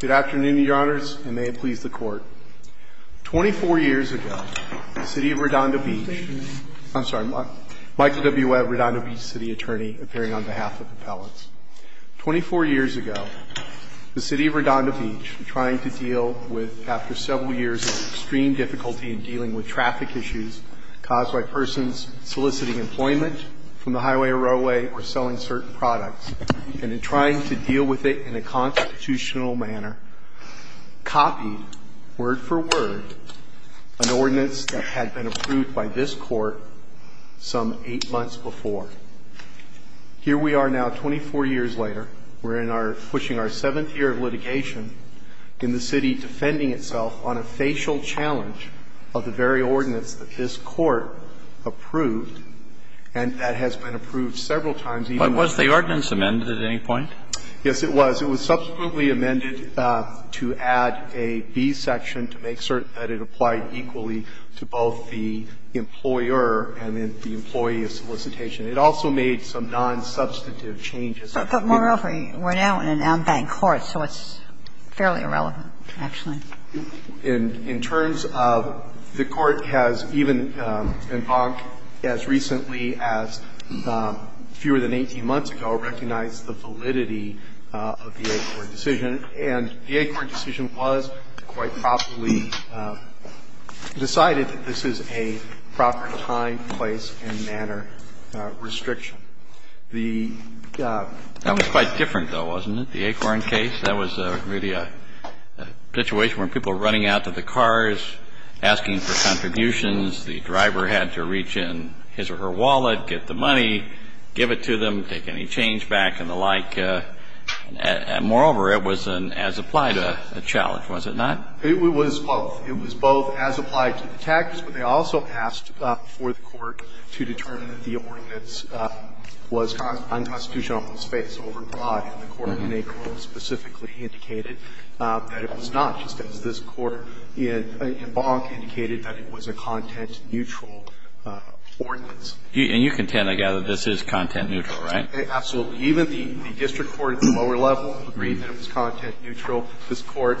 Good afternoon, Your Honors, and may it please the Court. 24 years ago, the City of Redondo Beach Thank you, Your Honor. I'm sorry, Michael W. Webb, Redondo Beach City Attorney, appearing on behalf of appellants. 24 years ago, the City of Redondo Beach, trying to deal with, after several years of extreme difficulty in dealing with traffic issues caused by persons soliciting employment from the highway or railway or selling certain products, and in trying to deal with it in a constitutional manner, copied, word for word, an ordinance that had been approved by this Court some eight months before. Here we are now, 24 years later. We're pushing our seventh year of litigation in the city, defending itself on a facial challenge of the very ordinance that this Court approved, and that has been approved several times even Yes, it was. It was subsequently amended to add a B section to make certain that it applied equally to both the employer and the employee of solicitation. It also made some non-substantive changes. But moreover, we're now in an unbanked court, so it's fairly irrelevant, actually. In terms of the Court has even, as recently as fewer than 18 months ago, recognized the validity of the ACORN decision, and the ACORN decision was quite properly decided that this is a proper time, place, and manner restriction. The That was quite different, though, wasn't it, the ACORN case? That was really a situation where people were running out to the cars, asking for contributions. The driver had to reach in his or her wallet, get the money, give it to them, take any change back, and the like. Moreover, it was an as-applied challenge, was it not? It was both. It was both as-applied to the tax, but they also asked for the Court to determine that the ordinance was unconstitutional in its face, overbought, and the Court, in ACORN, specifically indicated that it was not, just as this Court in Bonk indicated that it was a content-neutral ordinance. And you contend, I gather, this is content-neutral, right? Absolutely. Even the district court at the lower level agreed that it was content-neutral. This Court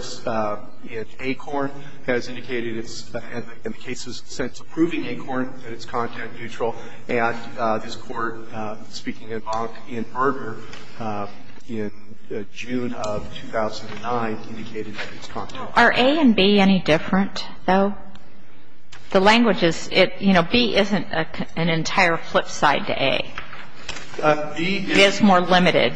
in ACORN has indicated it's, in the case of the sentence approving ACORN, that it's content-neutral. And this Court speaking in Bonk in Berger in June of 2009 indicated that it's content-neutral. Are A and B any different, though? The language is, you know, B isn't an entire flip side to A. B is more limited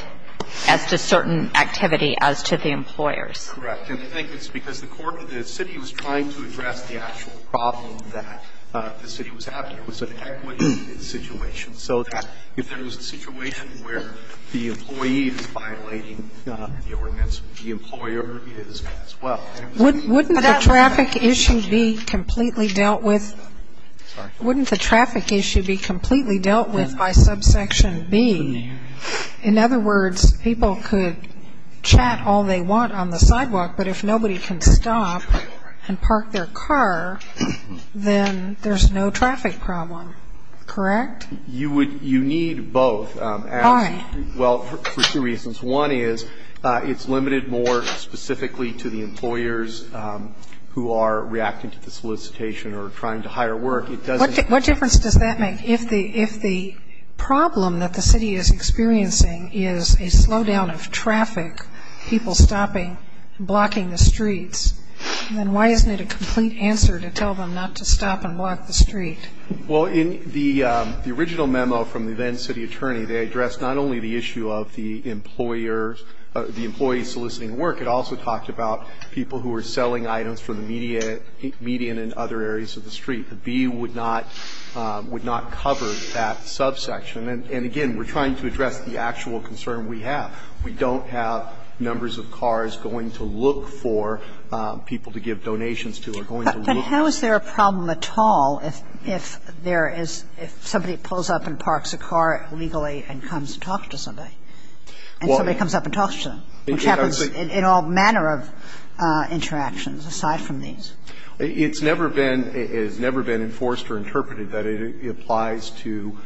as to certain activity as to the employers. Correct. And I think it's because the Court, the city was trying to address the actual problem that the city was having. It was an equity situation. So that if there was a situation where the employee is violating the ordinance, the employer is as well. Wouldn't the traffic issue be completely dealt with? Sorry. Section B. In other words, people could chat all they want on the sidewalk, but if nobody can stop and park their car, then there's no traffic problem. Correct? You would, you need both. Why? Well, for two reasons. One is, it's limited more specifically to the employers who are reacting to the solicitation or trying to hire work. It doesn't. What difference does that make? If the problem that the city is experiencing is a slowdown of traffic, people stopping, blocking the streets, then why isn't it a complete answer to tell them not to stop and block the street? Well, in the original memo from the then city attorney, they addressed not only the issue of the employers, the employees soliciting work. It also talked about people who were selling items for the median and other areas of the street. The B would not cover that subsection. And again, we're trying to address the actual concern we have. We don't have numbers of cars going to look for people to give donations to or going to look for. But how is there a problem at all if there is, if somebody pulls up and parks a car illegally and comes to talk to somebody, and somebody comes up and talks to them, which happens in all manner of interactions aside from these? It's never been enforced or interpreted that it applies to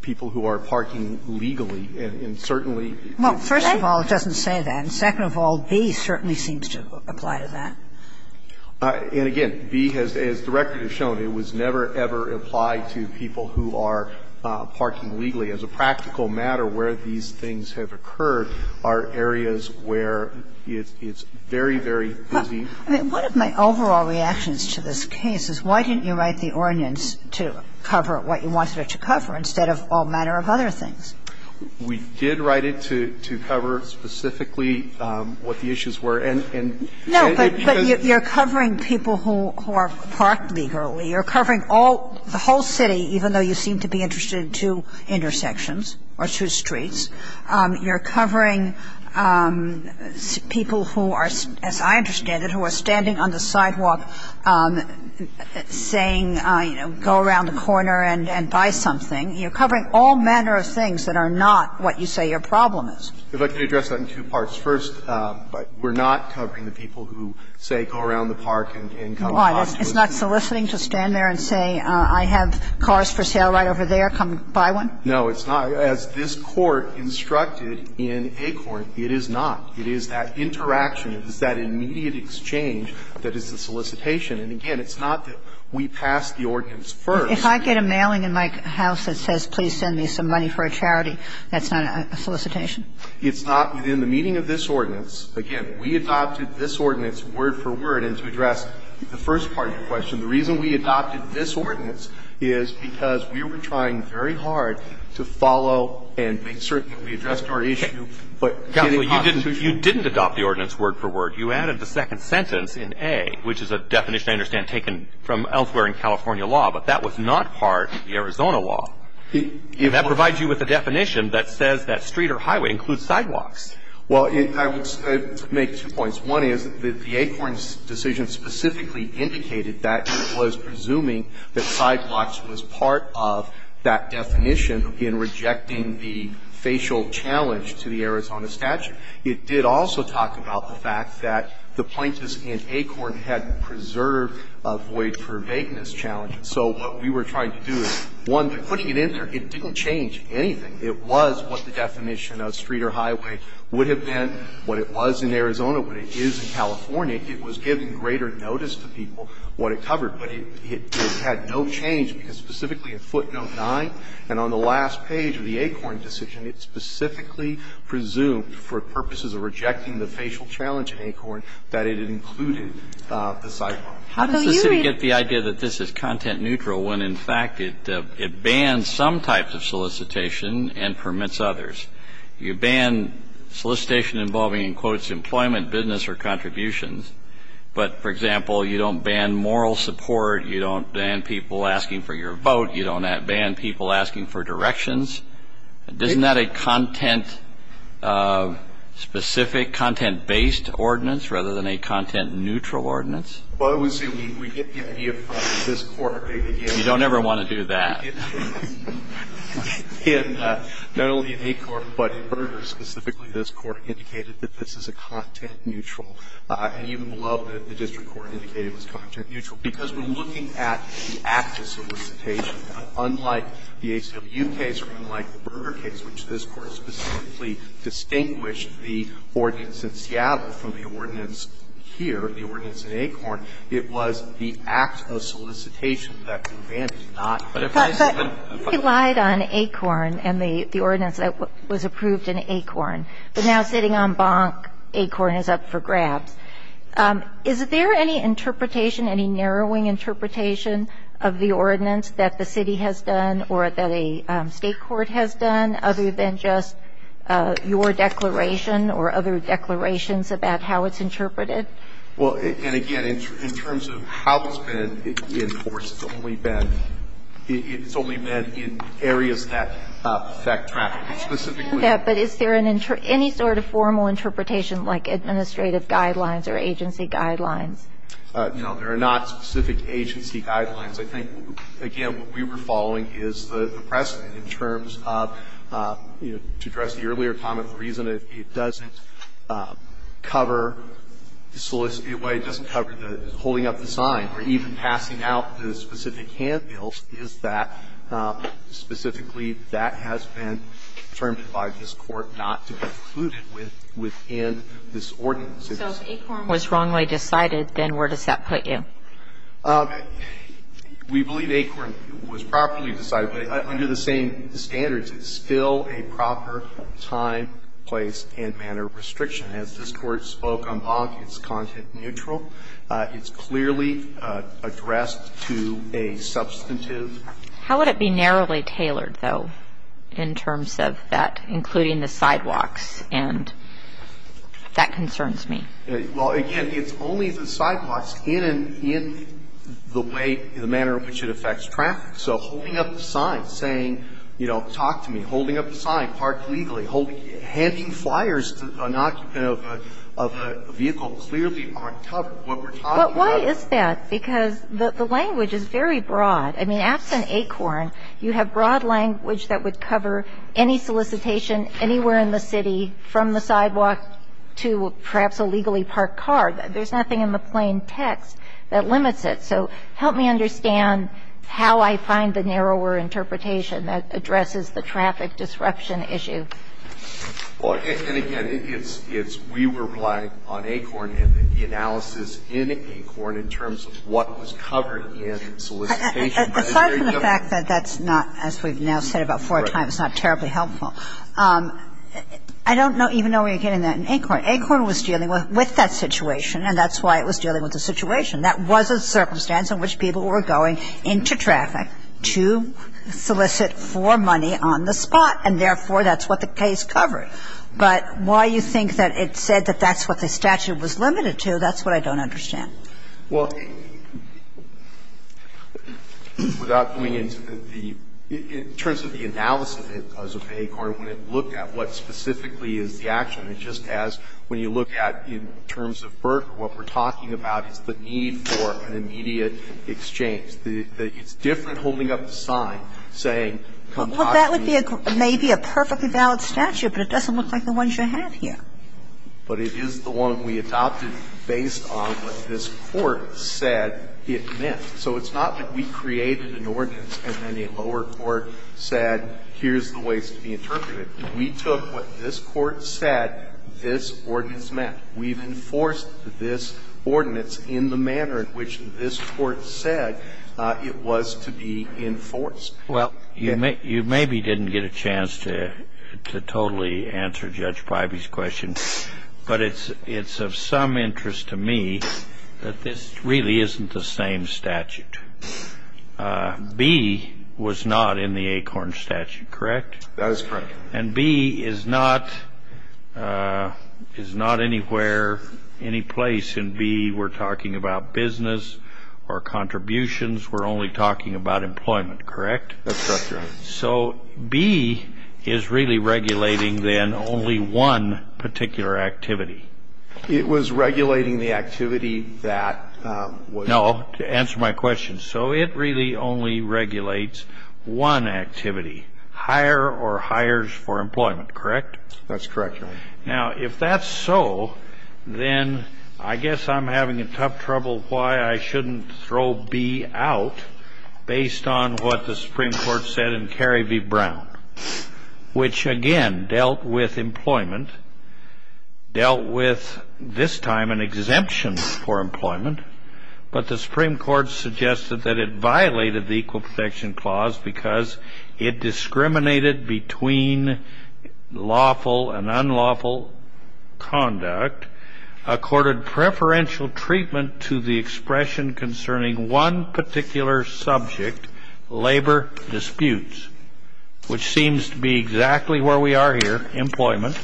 people who are parking legally, and certainly it's not. Well, first of all, it doesn't say that. And second of all, B certainly seems to apply to that. And again, B has, as the record has shown, it was never, ever applied to people who are parking legally. As a practical matter, where these things have occurred are areas where it's very, very easy. I mean, one of my overall reactions to this case is why didn't you write the ordinance to cover what you wanted it to cover instead of all manner of other things? We did write it to cover specifically what the issues were. And it shows you're covering people who are parked legally. You're covering all, the whole city, even though you seem to be interested in two intersections or two streets. You're covering people who are, as I understand it, who are standing on the sidewalk saying, you know, go around the corner and buy something. You're covering all manner of things that are not what you say your problem is. If I could address that in two parts. First, we're not covering the people who say go around the park and come and talk to us. It's not soliciting to stand there and say I have cars for sale right over there, come buy one? No, it's not. As this Court instructed in Acorn, it is not. It is that interaction, it is that immediate exchange that is the solicitation. And again, it's not that we passed the ordinance first. If I get a mailing in my house that says please send me some money for a charity, that's not a solicitation? It's not within the meaning of this ordinance. Again, we adopted this ordinance word for word. And to address the first part of your question, the reason we adopted this ordinance is because we were trying very hard to follow and make certain that we addressed our issue, but getting a constitution. You didn't adopt the ordinance word for word. You added the second sentence in A, which is a definition I understand taken from elsewhere in California law, but that was not part of the Arizona law. That provides you with a definition that says that street or highway includes sidewalks. Well, I would make two points. One is that the Acorn's decision specifically indicated that it was presuming that sidewalks was part of that definition in rejecting the facial challenge to the Arizona statute. It did also talk about the fact that the plaintiffs in Acorn had preserved a void for vagueness challenge. So what we were trying to do is, one, putting it in there, it didn't change anything. It was what the definition of street or highway would have been, what it was in Arizona, what it is in California. It was giving greater notice to people what it covered. But it had no change, because specifically in footnote 9 and on the last page of the Acorn decision, it specifically presumed, for purposes of rejecting the facial challenge in Acorn, that it had included the sidewalk. How does the city get the idea that this is content neutral when, in fact, it bans some types of solicitation and permits others? You ban solicitation involving, in quotes, employment, business, or contributions, but, for example, you don't ban moral support, you don't ban people asking for your vote, you don't ban people asking for directions. Isn't that a content-specific, content-based ordinance rather than a content-neutral ordinance? Well, I would say we get the idea from this Court that it is. You don't ever want to do that. And not only in Acorn, but in Berger specifically, this Court indicated that this is a content neutral. And even below, the district court indicated it was content neutral. Because when looking at the act of solicitation, unlike the HW case or unlike the Berger case, which this Court specifically distinguished the ordinance in Seattle from the ordinance here, the ordinance in Acorn, it was the act of solicitation that the ban did not apply. But if I said that they lied on Acorn and the ordinance that was approved in Acorn, but now sitting on Bonk, Acorn is up for grabs, is there any interpretation, any narrowing interpretation of the ordinance that the city has done or that a state court has done other than just your declaration or other declarations about how it's interpreted? Well, and again, in terms of how it's been enforced, it's only been in areas that affect traffic. But is there any sort of formal interpretation like administrative guidelines or agency guidelines? No, there are not specific agency guidelines. I think, again, what we were following is the precedent in terms of, to address the earlier comment, the reason it doesn't cover the solicitation, why it doesn't cover holding up the sign or even passing out the specific handbills is that specifically the reason it doesn't cover the solicitation is that it doesn't cover the specific handbills. So we believe that has been determined by this Court not to be included within this ordinance. So if Acorn was wrongly decided, then where does that put you? We believe Acorn was properly decided, but under the same standards, it's still a proper time, place, and manner of restriction. As this Court spoke on Bonk, it's content-neutral. It's clearly addressed to a substantive. How would it be narrowly tailored, though, in terms of that, including the sidewalks? And that concerns me. Well, again, it's only the sidewalks in the way, the manner in which it affects traffic. So holding up the sign, saying, you know, talk to me, holding up the sign, park legally, handing flyers to an occupant of a vehicle clearly aren't covered. What we're talking about is that. But why is that? Because the language is very broad. I mean, absent Acorn, you have broad language that would cover any solicitation anywhere in the city from the sidewalk to perhaps a legally parked car. There's nothing in the plain text that limits it. So help me understand how I find the narrower interpretation that addresses the traffic disruption issue. Well, and again, it's we were relying on Acorn and the analysis in Acorn in terms of what was covered in solicitation. Aside from the fact that that's not, as we've now said about four times, not terribly helpful, I don't know even know where you're getting that in Acorn. Acorn was dealing with that situation, and that's why it was dealing with the situation. That was a circumstance in which people were going into traffic to solicit for money on the spot, and therefore, that's what the case covered. But why you think that it said that that's what the statute was limited to, that's what I don't understand. Well, without going into the – in terms of the analysis of it as of Acorn, when it looked at what specifically is the action, it just has, when you look at in terms of Berk, what we're talking about is the need for an immediate exchange. It's different holding up a sign saying, come talk to me. Well, that would be maybe a perfectly valid statute, but it doesn't look like the ones you have here. But it is the one we adopted based on what this Court said it meant. So it's not that we created an ordinance and then a lower court said, here's the ways to be interpreted. We took what this Court said this ordinance meant. We've enforced this ordinance in the manner in which this Court said it was to be enforced. Well, you maybe didn't get a chance to totally answer Judge Priby's question, but it's of some interest to me that this really isn't the same statute. B was not in the Acorn statute, correct? That is correct. And B is not anywhere, any place in B we're talking about business or contributions. We're only talking about employment, correct? That's correct, Your Honor. So B is really regulating then only one particular activity. It was regulating the activity that was... No, to answer my question. So it really only regulates one activity, hire or hires for employment, correct? That's correct, Your Honor. Now, if that's so, then I guess I'm having a tough trouble why I shouldn't throw B out based on what the Supreme Court said in Carey v. Brown, which again dealt with employment, dealt with this time an exemption for employment that it violated the Equal Protection Clause because it discriminated between lawful and unlawful conduct, accorded preferential treatment to the expression concerning one particular subject, labor disputes, which seems to be exactly where we are here, employment,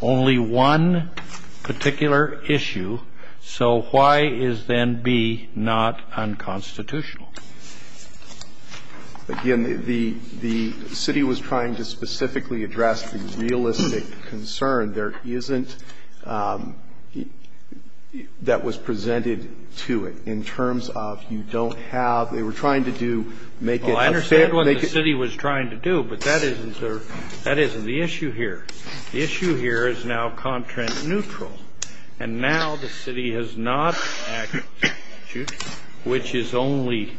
only one particular issue. So why is then B not unconstitutional? Again, the city was trying to specifically address the realistic concern. There isn't that was presented to it in terms of you don't have they were trying to do make it... Well, I understand what the city was trying to do, but that isn't the issue here. The issue here is now contract neutral. And now the city has not acted, which is only,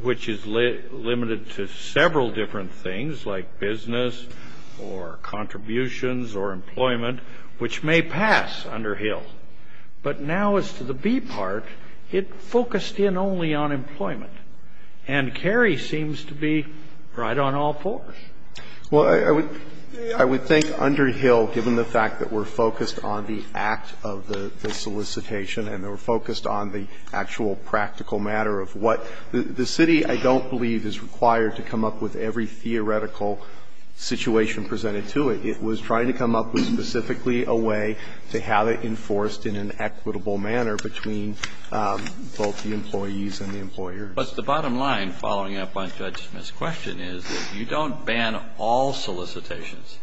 which is limited to several different things like business or contributions or employment, which may pass under Hill. But now as to the B part, it focused in only on employment. And Carey seems to be right on all fours. Well, I would think under Hill, given the fact that we're focused on the act of the solicitation and we're focused on the actual practical matter of what the city, I don't believe, is required to come up with every theoretical situation presented to it. It was trying to come up with specifically a way to have it enforced in an equitable manner between both the employees and the employers. But the bottom line following up on Judge Smith's question is that you don't ban all solicitations.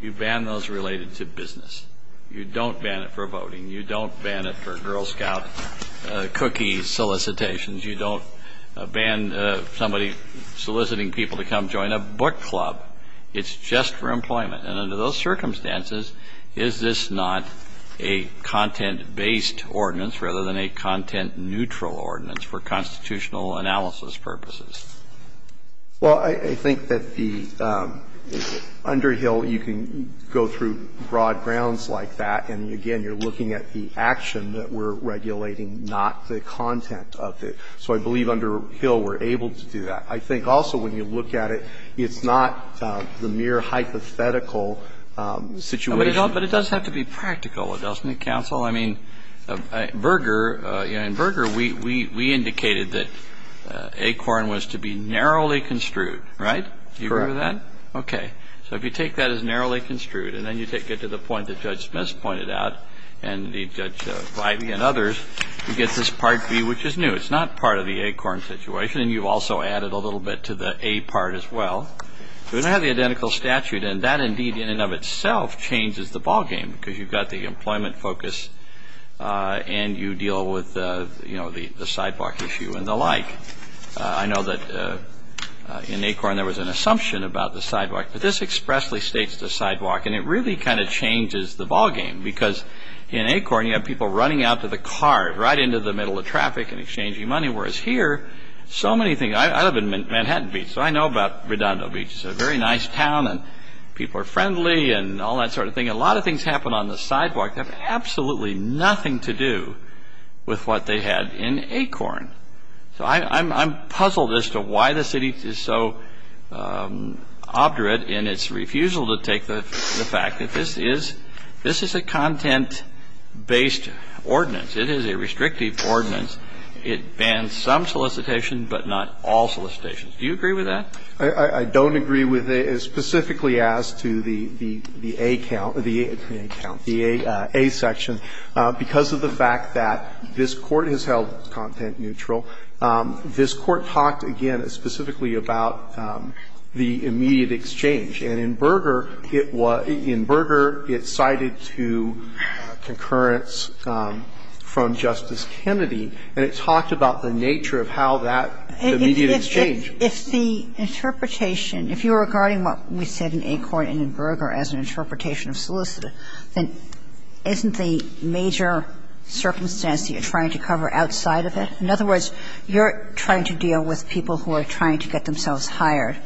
You ban those related to business. You don't ban it for voting. You don't ban it for Girl Scout cookie solicitations. You don't ban somebody soliciting people to come join a book club. It's just for employment. And under those circumstances, is this not a content-based ordinance rather than a content-neutral ordinance for constitutional analysis purposes? Well, I think that the under Hill, you can go through broad grounds like that. And again, you're looking at the action that we're regulating, not the content of it. So I believe under Hill we're able to do that. I think also when you look at it, it's not the mere hypothetical situation. But it does have to be practical, doesn't it, counsel? I mean, in Berger, we indicated that ACORN was to be narrowly construed, right? Do you remember that? Okay. So if you take that as narrowly construed, and then you take it to the point that Judge Smith pointed out, and Judge Rivey and others, you get this Part B, which is new. It's not part of the ACORN situation. And you've also added a little bit to the A part as well. We don't have the identical statute. And that indeed in and of itself changes the ballgame because you've got the employment focus and you deal with the sidewalk issue and the like. I know that in ACORN there was an assumption about the sidewalk. But this expressly states the sidewalk. And it really kind of changes the ballgame because in ACORN you have people running out to the car, right into the middle of traffic and exchanging money. Whereas here, so many things. I live in Manhattan Beach, so I know about Redondo Beach. It's a very nice town and people are friendly and all that sort of thing. A lot of things happen on the sidewalk that have absolutely nothing to do with what they had in ACORN. So I'm puzzled as to why the city is so obdurate in its refusal to take the fact that this is a content-based ordinance. It is a restrictive ordinance. It bans some solicitation, but not all solicitations. Do you agree with that? I don't agree with it, specifically as to the A count or the A section. Because of the fact that this Court has held content neutral, this Court talked, again, specifically about the immediate exchange. And in Berger, it cited to concurrence from Justice Kennedy, and it talked about the nature of how that immediate exchange. If the interpretation, if you're regarding what we said in ACORN and in Berger as an interpretation of solicit, then isn't the major circumstance that you're trying to cover outside of it? In other words, you're trying to deal with people who are trying to get themselves hired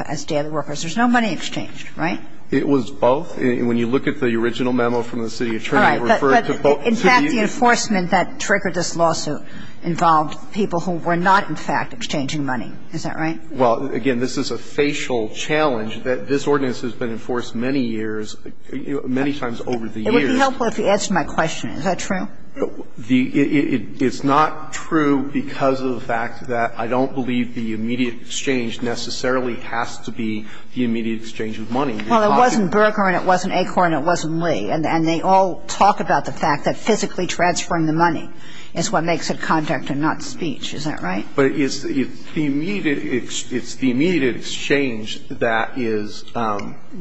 as daily workers. There's no money exchanged, right? It was both. When you look at the original memo from the city attorney, it referred to both. But in fact, the enforcement that triggered this lawsuit involved people who were not, in fact, exchanging money. Is that right? Well, again, this is a facial challenge. This ordinance has been enforced many years, many times over the years. It would be helpful if you answered my question. Is that true? It's not true because of the fact that I don't believe the immediate exchange necessarily has to be the immediate exchange of money. Well, it wasn't Berger and it wasn't ACORN and it wasn't Lee. And they all talk about the fact that physically transferring the money is what makes it contact and not speech. Is that right? But it's the immediate exchange that is,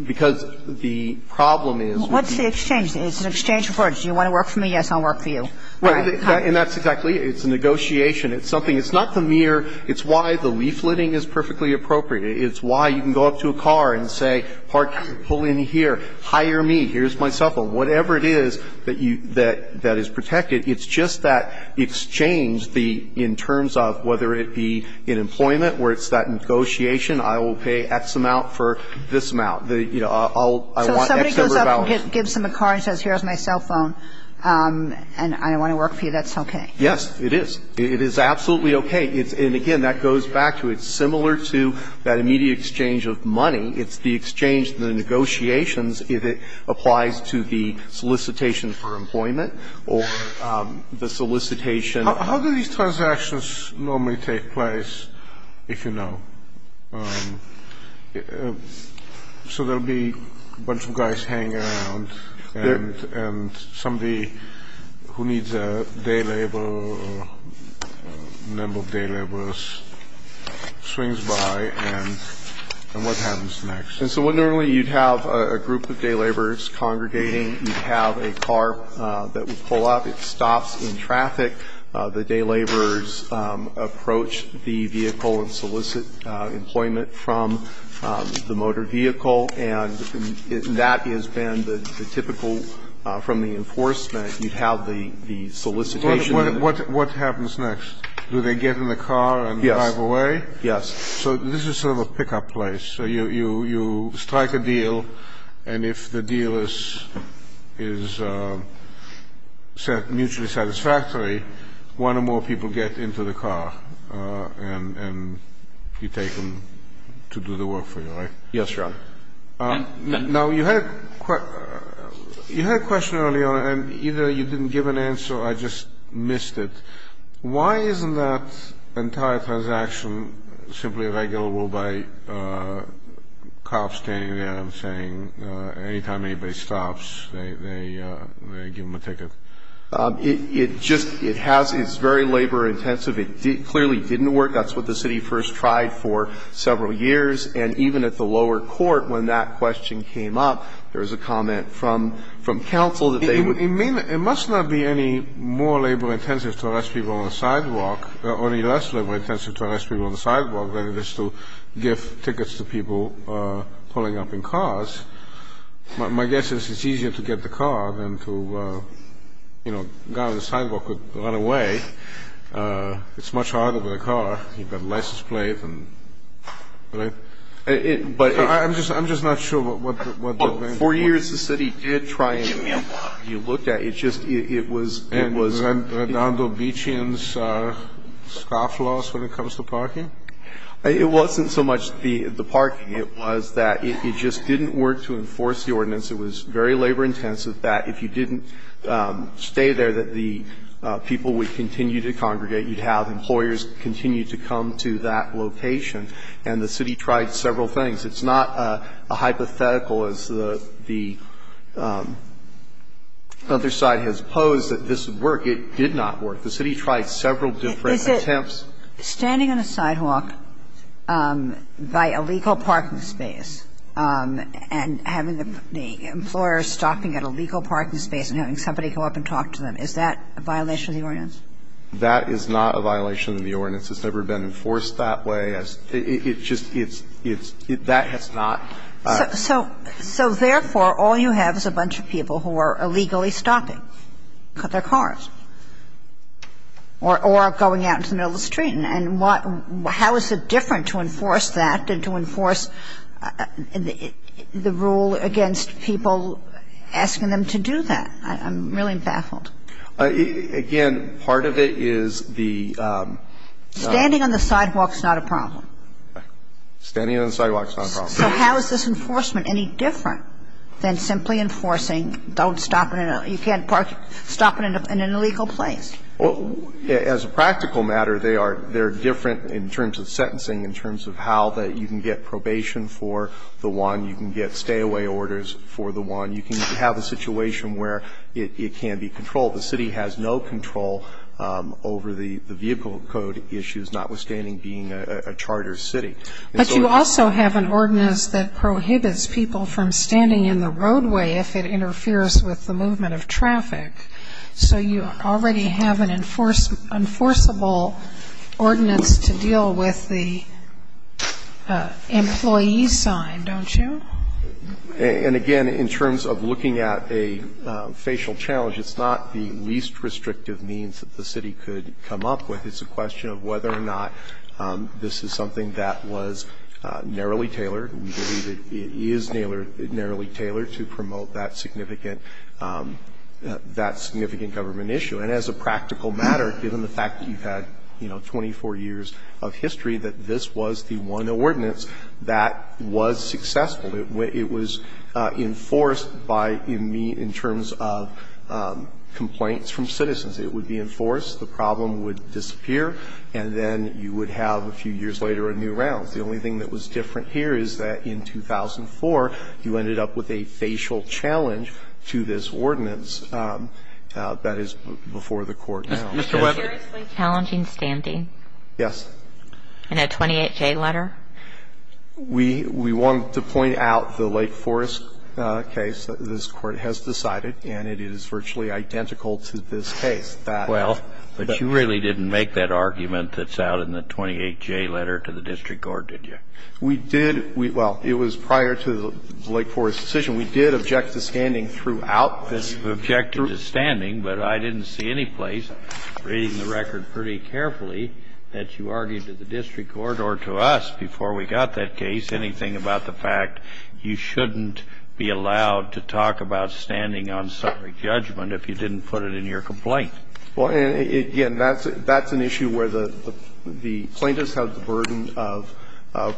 because the problem is. What's the exchange? It's an exchange of words. Do you want to work for me? Yes, I'll work for you. Right. And that's exactly. It's a negotiation. It's something. It's not the mere. It's why the leafleting is perfectly appropriate. It's why you can go up to a car and say, pull in here, hire me, here's my cell phone. Whatever it is that you, that is protected, it's just that exchange, the, in terms of whether it be in employment where it's that negotiation, I will pay X amount for this amount, you know, I'll, I want X number of hours. So if somebody goes up and gives them a car and says, here's my cell phone and I want to work for you, that's okay? Yes, it is. It is absolutely okay. And again, that goes back to it's similar to that immediate exchange of money. It's the exchange, the negotiations, if it applies to the solicitation for employment or the solicitation. How do these transactions normally take place, if you know? So there will be a bunch of guys hanging around and somebody who needs a day labor or a number of day laborers swings by and what happens to them? So normally you'd have a group of day laborers congregating, you'd have a car that would pull up, it stops in traffic, the day laborers approach the vehicle and solicit employment from the motor vehicle and that has been the typical, from the enforcement, you'd have the solicitation. What happens next? Do they get in the car and drive away? Yes. So this is sort of a pickup place. So you strike a deal and if the deal is mutually satisfactory, one or more people get into the car and you take them to do the work for you, right? Yes, Your Honor. Now you had a question earlier and either you didn't give an answer or I just missed it. Why isn't that entire transaction simply regulable by cops standing there and saying anytime anybody stops, they give them a ticket? It just, it has, it's very labor intensive. It clearly didn't work. That's what the city first tried for several years and even at the lower court when that question came up, there was a comment from counsel that they would It must not be any more labor intensive to arrest people on the sidewalk or any less labor intensive to arrest people on the sidewalk than it is to give tickets to people pulling up in cars. My guess is it's easier to get the car than to, you know, a guy on the sidewalk could run away. It's much harder with a car. You've got a license plate and, right? I'm just not sure what the... Four years the city did try and, you looked at it, it just, it was, it was... And Redondo Beachian's scoff loss when it comes to parking? It wasn't so much the parking. It was that it just didn't work to enforce the ordinance. It was very labor intensive that if you didn't stay there that the people would continue to congregate. You'd have employers continue to come to that location. And the city tried several things. It's not a hypothetical as the other side has posed that this would work. It did not work. The city tried several different attempts. Is it standing on a sidewalk by a legal parking space and having the employer stopping at a legal parking space and having somebody go up and talk to them, is that a violation of the ordinance? That is not a violation of the ordinance. It's never been enforced that way. It's just, it's, that has not... So, therefore, all you have is a bunch of people who are illegally stopping, cut their cars, or are going out into the middle of the street. And how is it different to enforce that than to enforce the rule against people asking them to do that? I'm really baffled. Again, part of it is the... Standing on the sidewalk is not a problem. Standing on the sidewalk is not a problem. So how is this enforcement any different than simply enforcing, don't stop at a, you can't park, stop at an illegal place? Well, as a practical matter, they are, they're different in terms of sentencing, in terms of how that you can get probation for the one, you can get stay-away orders for the one. You can have a situation where it can be controlled. The city has no control over the vehicle code issues, notwithstanding being a charter city. But you also have an ordinance that prohibits people from standing in the roadway if it interferes with the movement of traffic. So you already have an enforceable ordinance to deal with the employee sign, don't you? And again, in terms of looking at a facial challenge, it's not the least restrictive means that the city could come up with. It's a question of whether or not this is something that was narrowly tailored. We believe it is narrowly tailored to promote that significant government issue. And as a practical matter, given the fact that you've had, you know, 24 years of history, that this was the one ordinance that was successful. It was enforced by, in terms of complaints from citizens. It would be enforced. The problem would disappear. And then you would have, a few years later, a new round. The only thing that was different here is that in 2004, you ended up with a facial challenge to this ordinance that is before the Court now. Mr. Webber. A seriously challenging standing? Yes. In a 28-J letter? We wanted to point out the Lake Forest case that this Court has decided, and it is virtually identical to this case. Well, but you really didn't make that argument that's out in the 28-J letter to the district court, did you? We did. Well, it was prior to the Lake Forest decision. We did object to standing throughout. You objected to standing, but I didn't see any place, reading the record pretty carefully, that you argued to the district court or to us, before we got that case, anything about the fact you shouldn't be allowed to talk about standing on subject judgment if you didn't put it in your complaint. Well, again, that's an issue where the plaintiffs have the burden of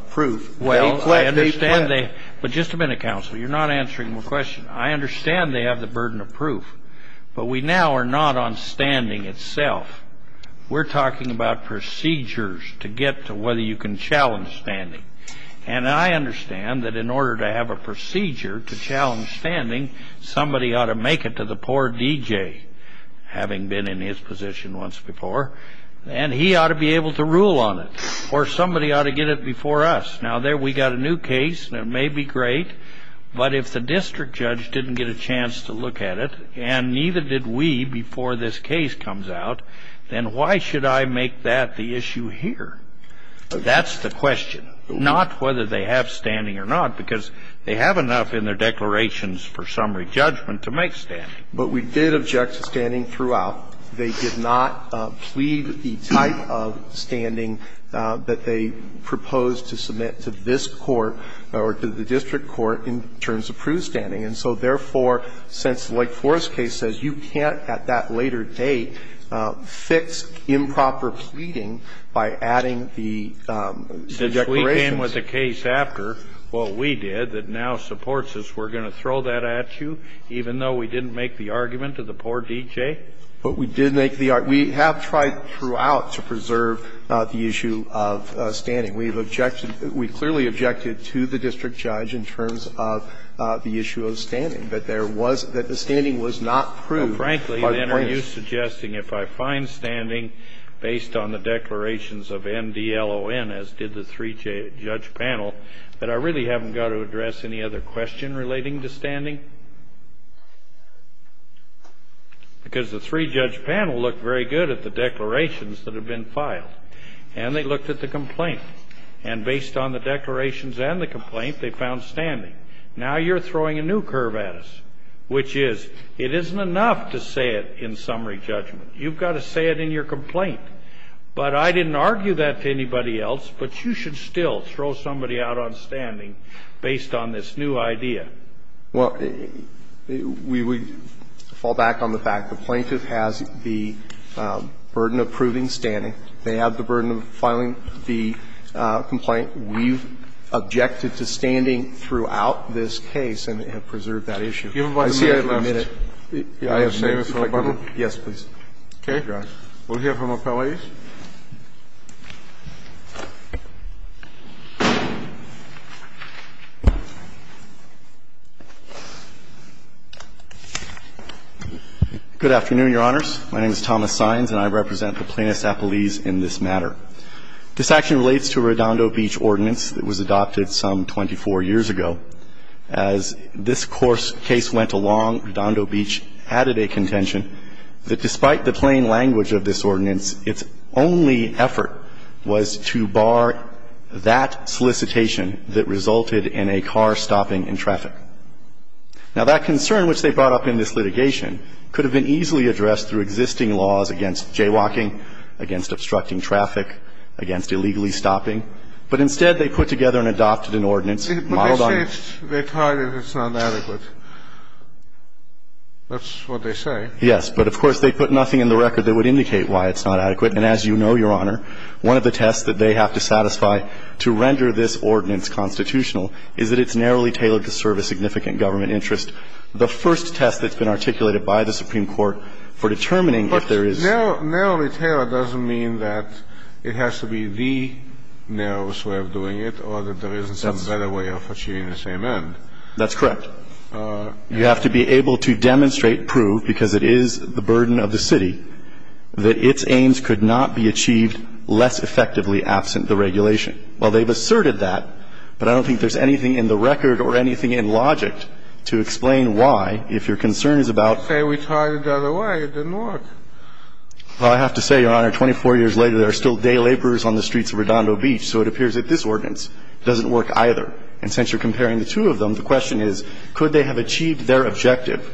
proof. Well, I understand they – but just a minute, counsel. You're not answering my question. I understand they have the burden of proof, but we now are not on standing itself. We're talking about procedures to get to whether you can challenge standing. And I understand that in order to have a procedure to challenge standing, somebody ought to make it to the poor DJ, having been in his position once before, and he ought to be able to rule on it, or somebody ought to get it before us. Now, there we got a new case, and it may be great, but if the district judge didn't get a chance to look at it, and neither did we before this case comes out, then why should I make that the issue here? That's the question. Not whether they have standing or not, because they have enough in their declarations for summary judgment to make standing. But we did object to standing throughout. They did not plead the type of standing that they proposed to submit to this court or to the district court in terms of proof standing. And so, therefore, since the Lake Forest case says you can't at that later date fix improper pleading by adding the declarations. Since we came with a case after what we did that now supports us, we're going to throw that at you, even though we didn't make the argument to the poor DJ? But we did make the argument. We have tried throughout to preserve the issue of standing. We've clearly objected to the district judge in terms of the issue of standing, but the standing was not proved by the plaintiffs. Frankly, then, are you suggesting if I find standing based on the declarations of MDLON, as did the three-judge panel, that I really haven't got to address any other question relating to standing? Because the three-judge panel looked very good at the declarations that have been And based on the declarations and the complaint, they found standing. Now you're throwing a new curve at us, which is it isn't enough to say it in summary judgment. You've got to say it in your complaint. But I didn't argue that to anybody else. But you should still throw somebody out on standing based on this new idea. Well, we would fall back on the fact the plaintiff has the burden of proving standing. They have the burden of filing the complaint. We've objected to standing throughout this case and have preserved that issue. I see I have a minute. I have a minute. Yes, please. Thank you, Your Honor. We'll hear from appellees. Good afternoon, Your Honors. My name is Thomas Saenz, and I represent the plaintiff's appellees in this matter. This action relates to Redondo Beach ordinance that was adopted some 24 years ago. As this case went along, Redondo Beach added a contention that despite the plain language of this ordinance, its only effort was to bar that solicitation that resulted in a car stopping in traffic. Now that concern, which they brought up in this litigation, could have been easily addressed through existing laws against jaywalking, against obstructing traffic, against illegally stopping. But instead, they put together and adopted an ordinance modeled on this. But they say it's retarded, it's not adequate. That's what they say. Yes. But, of course, they put nothing in the record that would indicate why it's not adequate. And as you know, Your Honor, one of the tests that they have to satisfy to render this ordinance constitutional is that it's narrowly tailored to serve a significant government interest. The first test that's been articulated by the Supreme Court for determining if there is no narrowly tailored doesn't mean that it has to be the narrowest way of doing it or that there isn't some better way of achieving the same end. That's correct. You have to be able to demonstrate, prove, because it is the burden of the city, that its aims could not be achieved less effectively absent the regulation. Well, they've asserted that, but I don't think there's anything in the record or anything in logic to explain why, if your concern is about... Say we tried it the other way, it didn't work. Well, I have to say, Your Honor, 24 years later, there are still day laborers on the streets of Redondo Beach, so it appears that this ordinance doesn't work either. And since you're comparing the two of them, the question is, could they have achieved their objective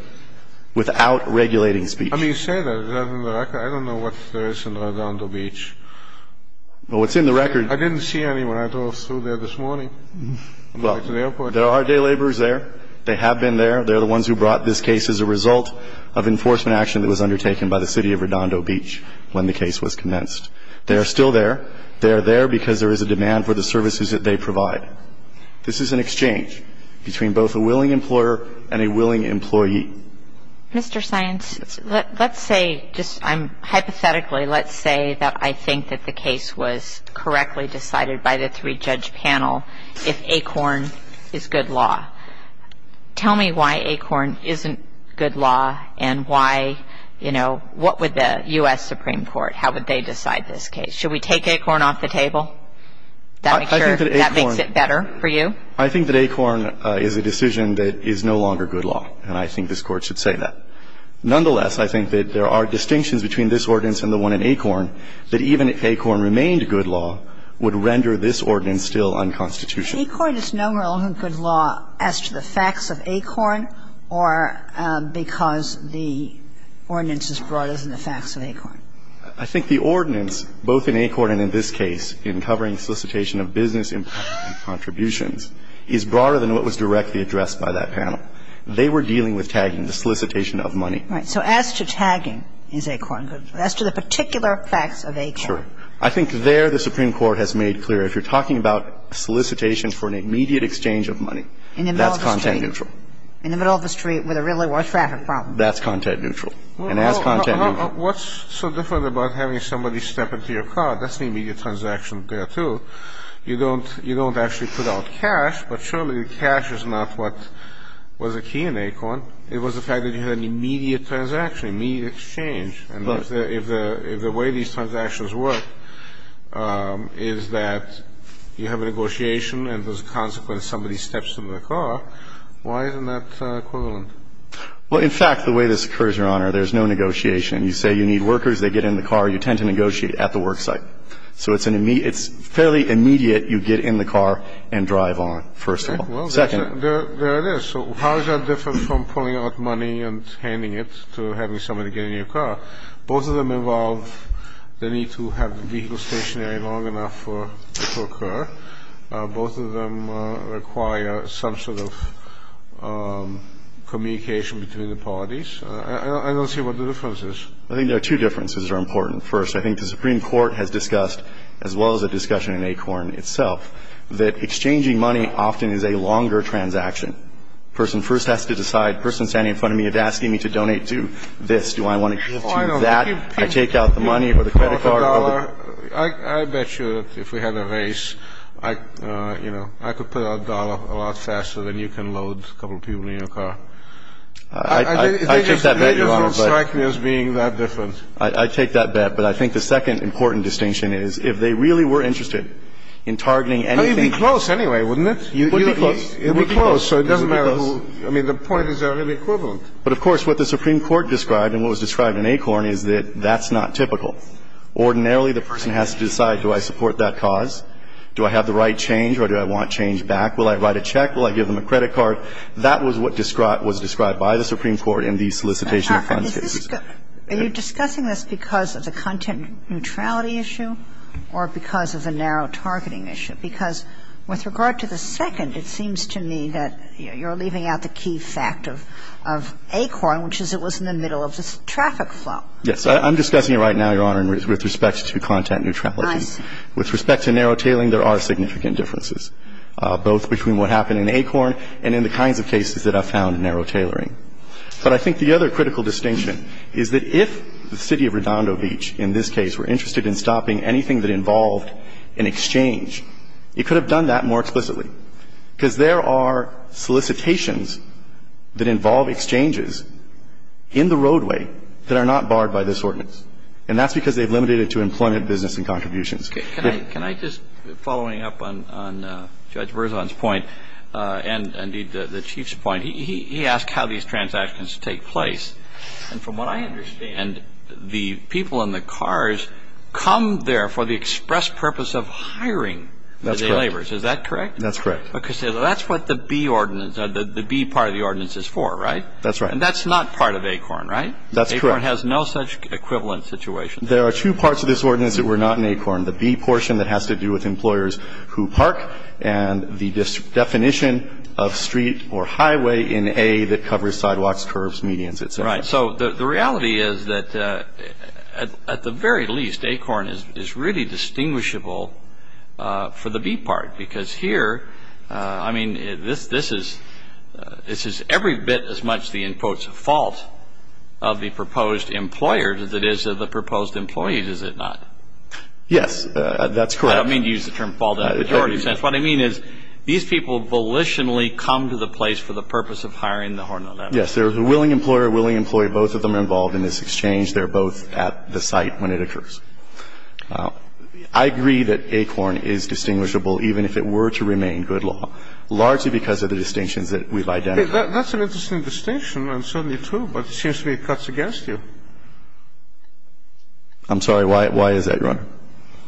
without regulating speech? I mean, you say that, is that in the record? I don't know what there is in Redondo Beach. Well, what's in the record... I didn't see any when I drove through there this morning. There are day laborers there. They have been there. They're the ones who brought this case as a result of enforcement action that was undertaken by the city of Redondo Beach when the case was commenced. They are still there. They are there because there is a demand for the services that they provide. This is an exchange between both a willing employer and a willing employee. Mr. Science, let's say, just hypothetically, let's say that I think that the case was decided by the Supreme Court. If ACORN is good law, tell me why ACORN isn't good law and why, you know, what would the U.S. Supreme Court, how would they decide this case? Should we take ACORN off the table? I think that ACORN... That makes it better for you? I think that ACORN is a decision that is no longer good law, and I think this court should say that. Nonetheless, I think that there are distinctions between this ordinance and the one in ACORN that even if ACORN remained good law would render this ordinance still unconstitutional. But ACORN is no longer good law as to the facts of ACORN or because the ordinance is broader than the facts of ACORN? I think the ordinance, both in ACORN and in this case, in covering solicitation of business impact contributions, is broader than what was directly addressed by that panel. They were dealing with tagging, the solicitation of money. Right. So as to tagging, is ACORN good law? As to the particular facts of ACORN? Sure. I think there the Supreme Court has made clear if you're talking about solicitation for an immediate exchange of money, that's content neutral. In the middle of the street with a really worse traffic problem. That's content neutral. And as content neutral... What's so different about having somebody step into your car? That's an immediate transaction there, too. You don't actually put out cash, but surely cash is not what was the key in ACORN. It was the fact that you had an immediate transaction, immediate exchange. If the way these transactions work is that you have a negotiation and as a consequence somebody steps into the car, why isn't that equivalent? Well, in fact, the way this occurs, Your Honor, there's no negotiation. You say you need workers, they get in the car. You tend to negotiate at the work site. So it's fairly immediate you get in the car and drive on, first of all. Second... There it is. So how is that different from pulling out money and handing it to having somebody get in your car? Both of them involve the need to have the vehicle stationary long enough for it to occur. Both of them require some sort of communication between the parties. I don't see what the difference is. I think there are two differences that are important. First, I think the Supreme Court has discussed, as well as a discussion in ACORN itself, that exchanging money often is a longer transaction. The person first has to decide. The person standing in front of me is asking me to donate to this. Do I want to give to that? I take out the money or the credit card. I bet you that if we had a race, you know, I could put out a dollar a lot faster than you can load a couple of people in your car. I take that bet, Your Honor. They just don't strike me as being that different. I take that bet. But I think the second important distinction is if they really were interested in targeting anything... It would be close anyway, wouldn't it? It would be close. It would be close. I mean, the point is they're really equivalent. But, of course, what the Supreme Court described and what was described in ACORN is that that's not typical. Ordinarily, the person has to decide, do I support that cause? Do I have the right change or do I want change back? Will I write a check? Will I give them a credit card? That was what was described by the Supreme Court in the solicitation of funds case. Are you discussing this because of the content neutrality issue or because of the narrow targeting issue? Because with regard to the second, it seems to me that you're leaving out the key fact of ACORN, which is it was in the middle of this traffic flow. Yes. I'm discussing it right now, Your Honor, with respect to content neutrality. Nice. With respect to narrow tailing, there are significant differences, both between what happened in ACORN and in the kinds of cases that I've found narrow tailoring. But I think the other critical distinction is that if the city of Redondo Beach, in this case, were interested in stopping anything that involved an exchange, it could have done that more explicitly. Because there are solicitations that involve exchanges in the roadway that are not barred by this ordinance. And that's because they've limited it to employment, business and contributions. Can I just, following up on Judge Verzon's point and, indeed, the Chief's point, he asked how these transactions take place. And from what I understand, the people in the cars come there for the express purpose of hiring the day laborers. That's correct. Is that correct? That's correct. Because that's what the B ordinance, the B part of the ordinance is for, right? That's right. And that's not part of ACORN, right? That's correct. ACORN has no such equivalent situation. There are two parts of this ordinance that were not in ACORN. The B portion that has to do with employers who park and the definition of street or highway in A that covers sidewalks, curbs, medians, et cetera. Right. So the reality is that, at the very least, ACORN is really distinguishable for the B part. Because here, I mean, this is every bit as much the, in quotes, fault of the proposed employer as it is of the proposed employee, is it not? Yes. That's correct. I don't mean to use the term fault. What I mean is these people volitionally come to the place for the purpose of hiring the horn on that. Yes. There's a willing employer, a willing employee. Both of them are involved in this exchange. They're both at the site when it occurs. I agree that ACORN is distinguishable even if it were to remain good law, largely because of the distinctions that we've identified. That's an interesting distinction and certainly true, but it seems to me it cuts against you. I'm sorry. Why is that, Your Honor?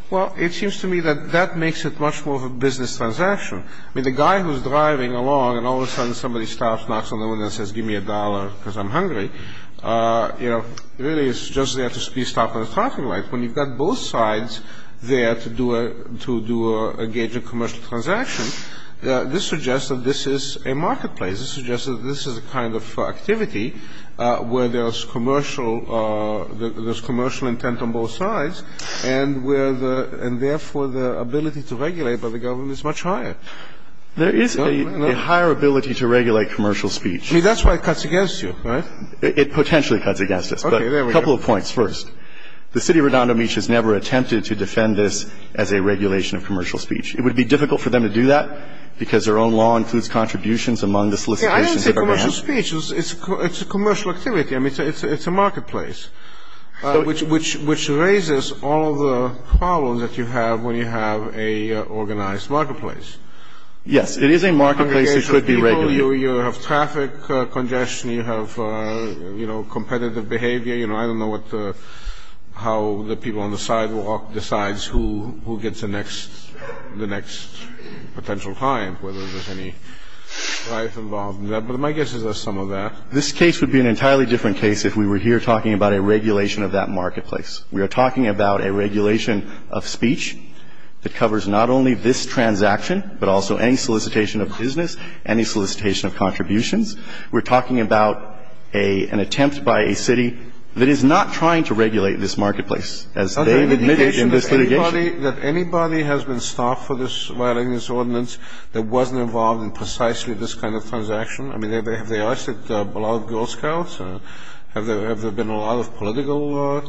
Well, it seems to me that that makes it much more of a business transaction. I mean, the guy who's driving along and all of a sudden somebody stops, knocks on the window and says, give me a dollar because I'm hungry, you know, really is just there to speed stop at a traffic light. When you've got both sides there to do a, to engage a commercial transaction, this suggests that this is a marketplace. This suggests that this is a kind of activity where there's commercial, there's commercial intent on both sides. And where the, and therefore the ability to regulate by the government is much higher. There is a higher ability to regulate commercial speech. I mean, that's why it cuts against you, right? It potentially cuts against us. Okay, there we go. But a couple of points first. The city of Redondo Beach has never attempted to defend this as a regulation of commercial speech. It would be difficult for them to do that because their own law includes contributions among the solicitations. Yeah, I didn't say commercial speech. It's a commercial activity. It's a marketplace, which raises all the problems that you have when you have an organized marketplace. Yes, it is a marketplace. It should be regulated. You have traffic congestion. You have, you know, competitive behavior. You know, I don't know what the, how the people on the sidewalk decides who gets the next, the next potential client, whether there's any life involved in that. But my guess is there's some of that. This case would be an entirely different case if we were here talking about a regulation of that marketplace. We are talking about a regulation of speech that covers not only this transaction, but also any solicitation of business, any solicitation of contributions. We're talking about a, an attempt by a city that is not trying to regulate this marketplace, as they've admitted in this litigation. That anybody has been stopped for this, violating this ordinance that wasn't involved in precisely this kind of transaction? I mean, have they arrested a lot of Girl Scouts? Have there, have there been a lot of political?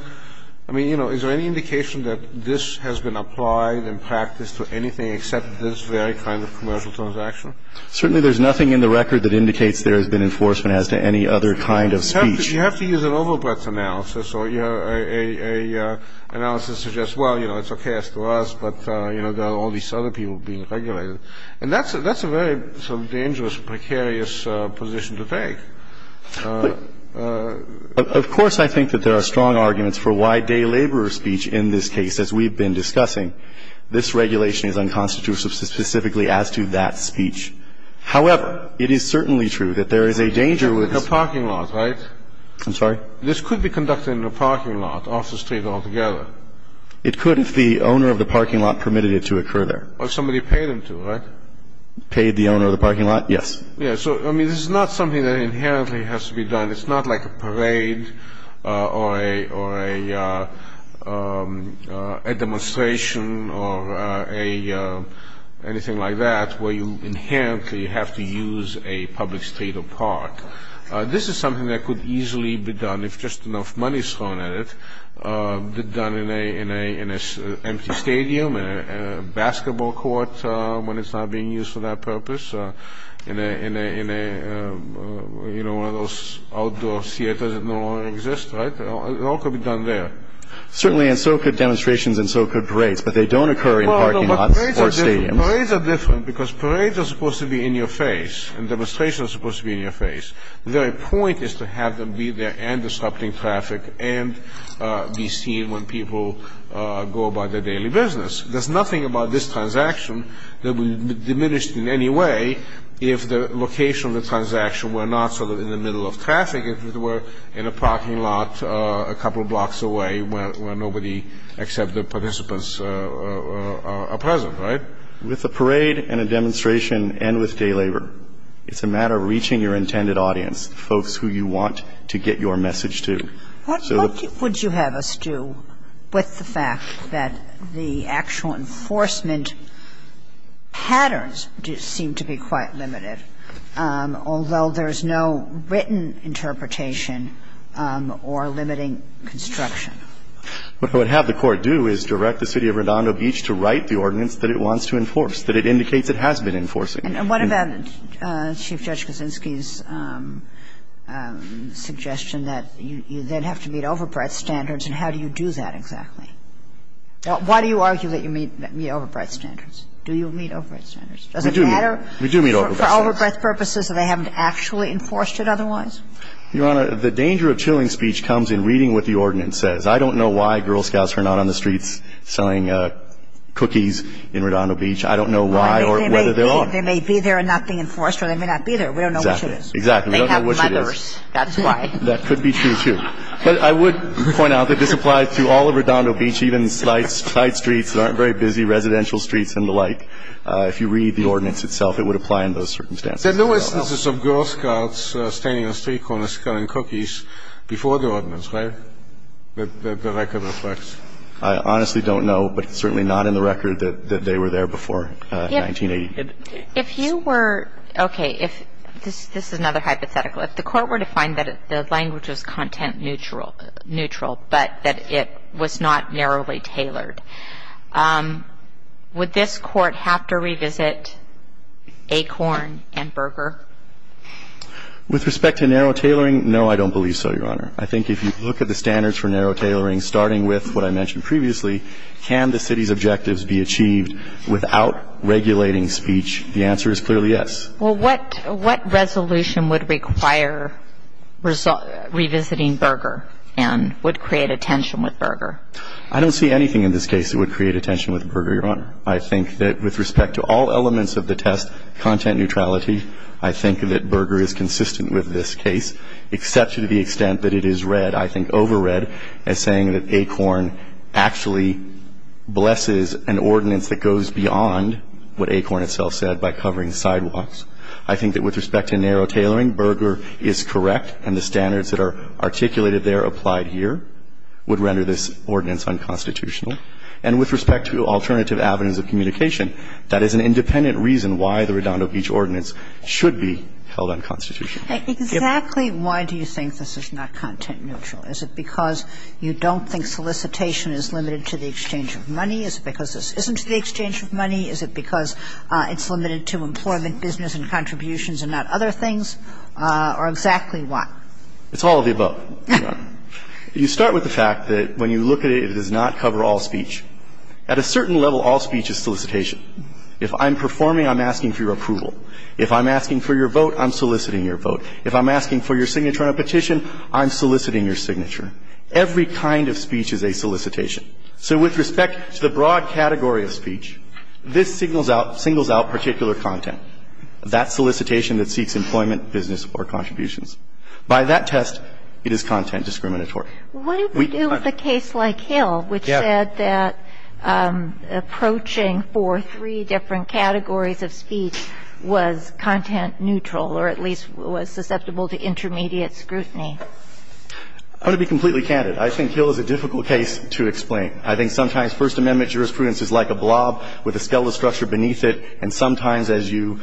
I mean, you know, is there any indication that this has been applied in practice to anything except this very kind of commercial transaction? Certainly there's nothing in the record that indicates there has been enforcement as to any other kind of speech. You have to use an overbreadth analysis. So you have a, a analysis that suggests, well, you know, it's okay as to us, but, you know, there are all these other people being regulated. And that's a, that's a very sort of dangerous, precarious position to take. Of course, I think that there are strong arguments for why day laborer speech in this case, as we've been discussing. This regulation is unconstitutional specifically as to that speech. However, it is certainly true that there is a danger with this. A parking lot, right? I'm sorry? This could be conducted in a parking lot off the street altogether. It could if the owner of the parking lot permitted it to occur there. Or somebody paid them to, right? Paid the owner of the parking lot? Yes. Yeah, so, I mean, this is not something that inherently has to be done. It's not like a parade or a, or a, a demonstration or a, anything like that where you inherently have to use a public street or park. This is something that could easily be done if just enough money is thrown at it. It could be done in a, in a, in a empty stadium, in a basketball court when it's not being used for that purpose, in a, in a, in a, you know, one of those outdoor theaters that no longer exist, right? It all could be done there. Certainly, and so could demonstrations and so could parades. But they don't occur in parking lots or stadiums. Parades are different because parades are supposed to be in your face and demonstrations are supposed to be in your face. The very point is to have them be there and disrupting traffic and be seen when people go about their daily business. There's nothing about this transaction that would diminish it in any way if the location of the transaction were not sort of in the middle of traffic if it were in a parking lot a couple blocks away where nobody except the participants are present, right? With a parade and a demonstration and with day labor, it's a matter of reaching your intended audience, folks who you want to get your message to. So the... What would you have us do with the fact that the actual enforcement patterns do seem to be quite limited, although there's no written interpretation or limiting construction? What I would have the court do is direct the city of Redondo Beach to write the ordinance that it wants to enforce, that it indicates it has been enforcing. And what about Chief Judge Kuczynski's suggestion that you then have to meet overbreadth standards and how do you do that exactly? Why do you argue that you meet overbreadth standards? Do you meet overbreadth standards? Does it matter? We do meet overbreadth standards. For overbreadth purposes and they haven't actually enforced it otherwise? Your Honor, the danger of chilling speech comes in reading what the ordinance says. I don't know why Girl Scouts are not on the streets selling cookies in Redondo Beach. I don't know why or whether they are. They may be there and not be enforced or they may not be there. We don't know which it is. Exactly. We don't know which it is. They have mothers. That's why. That could be true, too. But I would point out that this applies to all of Redondo Beach, even tight streets that aren't very busy, residential streets and the like. If you read the ordinance itself, it would apply in those circumstances. There are no instances of Girl Scouts standing on street corners selling cookies before the ordinance, right, that the record reflects? I honestly don't know, but it's certainly not in the record that they were there before 1980. If you were, okay, this is another hypothetical. If the Court were to find that the language was content neutral, but that it was not narrowly tailored, would this Court have to revisit ACORN and Berger? With respect to narrow tailoring, no, I don't believe so, Your Honor. I think if you look at the standards for narrow tailoring, starting with what I mentioned previously, can the city's objectives be achieved without regulating speech? The answer is clearly yes. Well, what resolution would require revisiting Berger and would create a tension with Berger? I don't see anything in this case that would create a tension with Berger, Your Honor. I think that with respect to all elements of the test, content neutrality, I think that Berger is consistent with this case, except to the extent that it is read, I think, overread as saying that ACORN actually blesses an ordinance that goes beyond what ACORN itself said by covering sidewalks. I think that with respect to narrow tailoring, Berger is correct and the standards that are articulated there applied here would render this ordinance unconstitutional. And with respect to alternative avenues of communication, that is an independent reason why the Redondo Beach Ordinance should be held unconstitutional. Exactly why do you think this is not content neutral? Is it because you don't think solicitation is limited to the exchange of money? Is it because this isn't the exchange of money? Is it because it's limited to employment, business and contributions and not other things? Or exactly why? It's all of the above, Your Honor. You start with the fact that when you look at it, it does not cover all speech. At a certain level, all speech is solicitation. If I'm performing, I'm asking for your approval. If I'm asking for your vote, I'm soliciting your vote. If I'm asking for your signature on a petition, I'm soliciting your signature. Every kind of speech is a solicitation. So with respect to the broad category of speech, this signals out particular content. That's solicitation that seeks employment, business or contributions. By that test, it is content discriminatory. What do we do with a case like Hill which said that approaching for three different categories of speech was content neutral or at least was susceptible to intermediate scrutiny? I'm going to be completely candid. I think Hill is a difficult case to explain. I think sometimes First Amendment jurisprudence is like a blob with a skeletal structure beneath it. And sometimes as you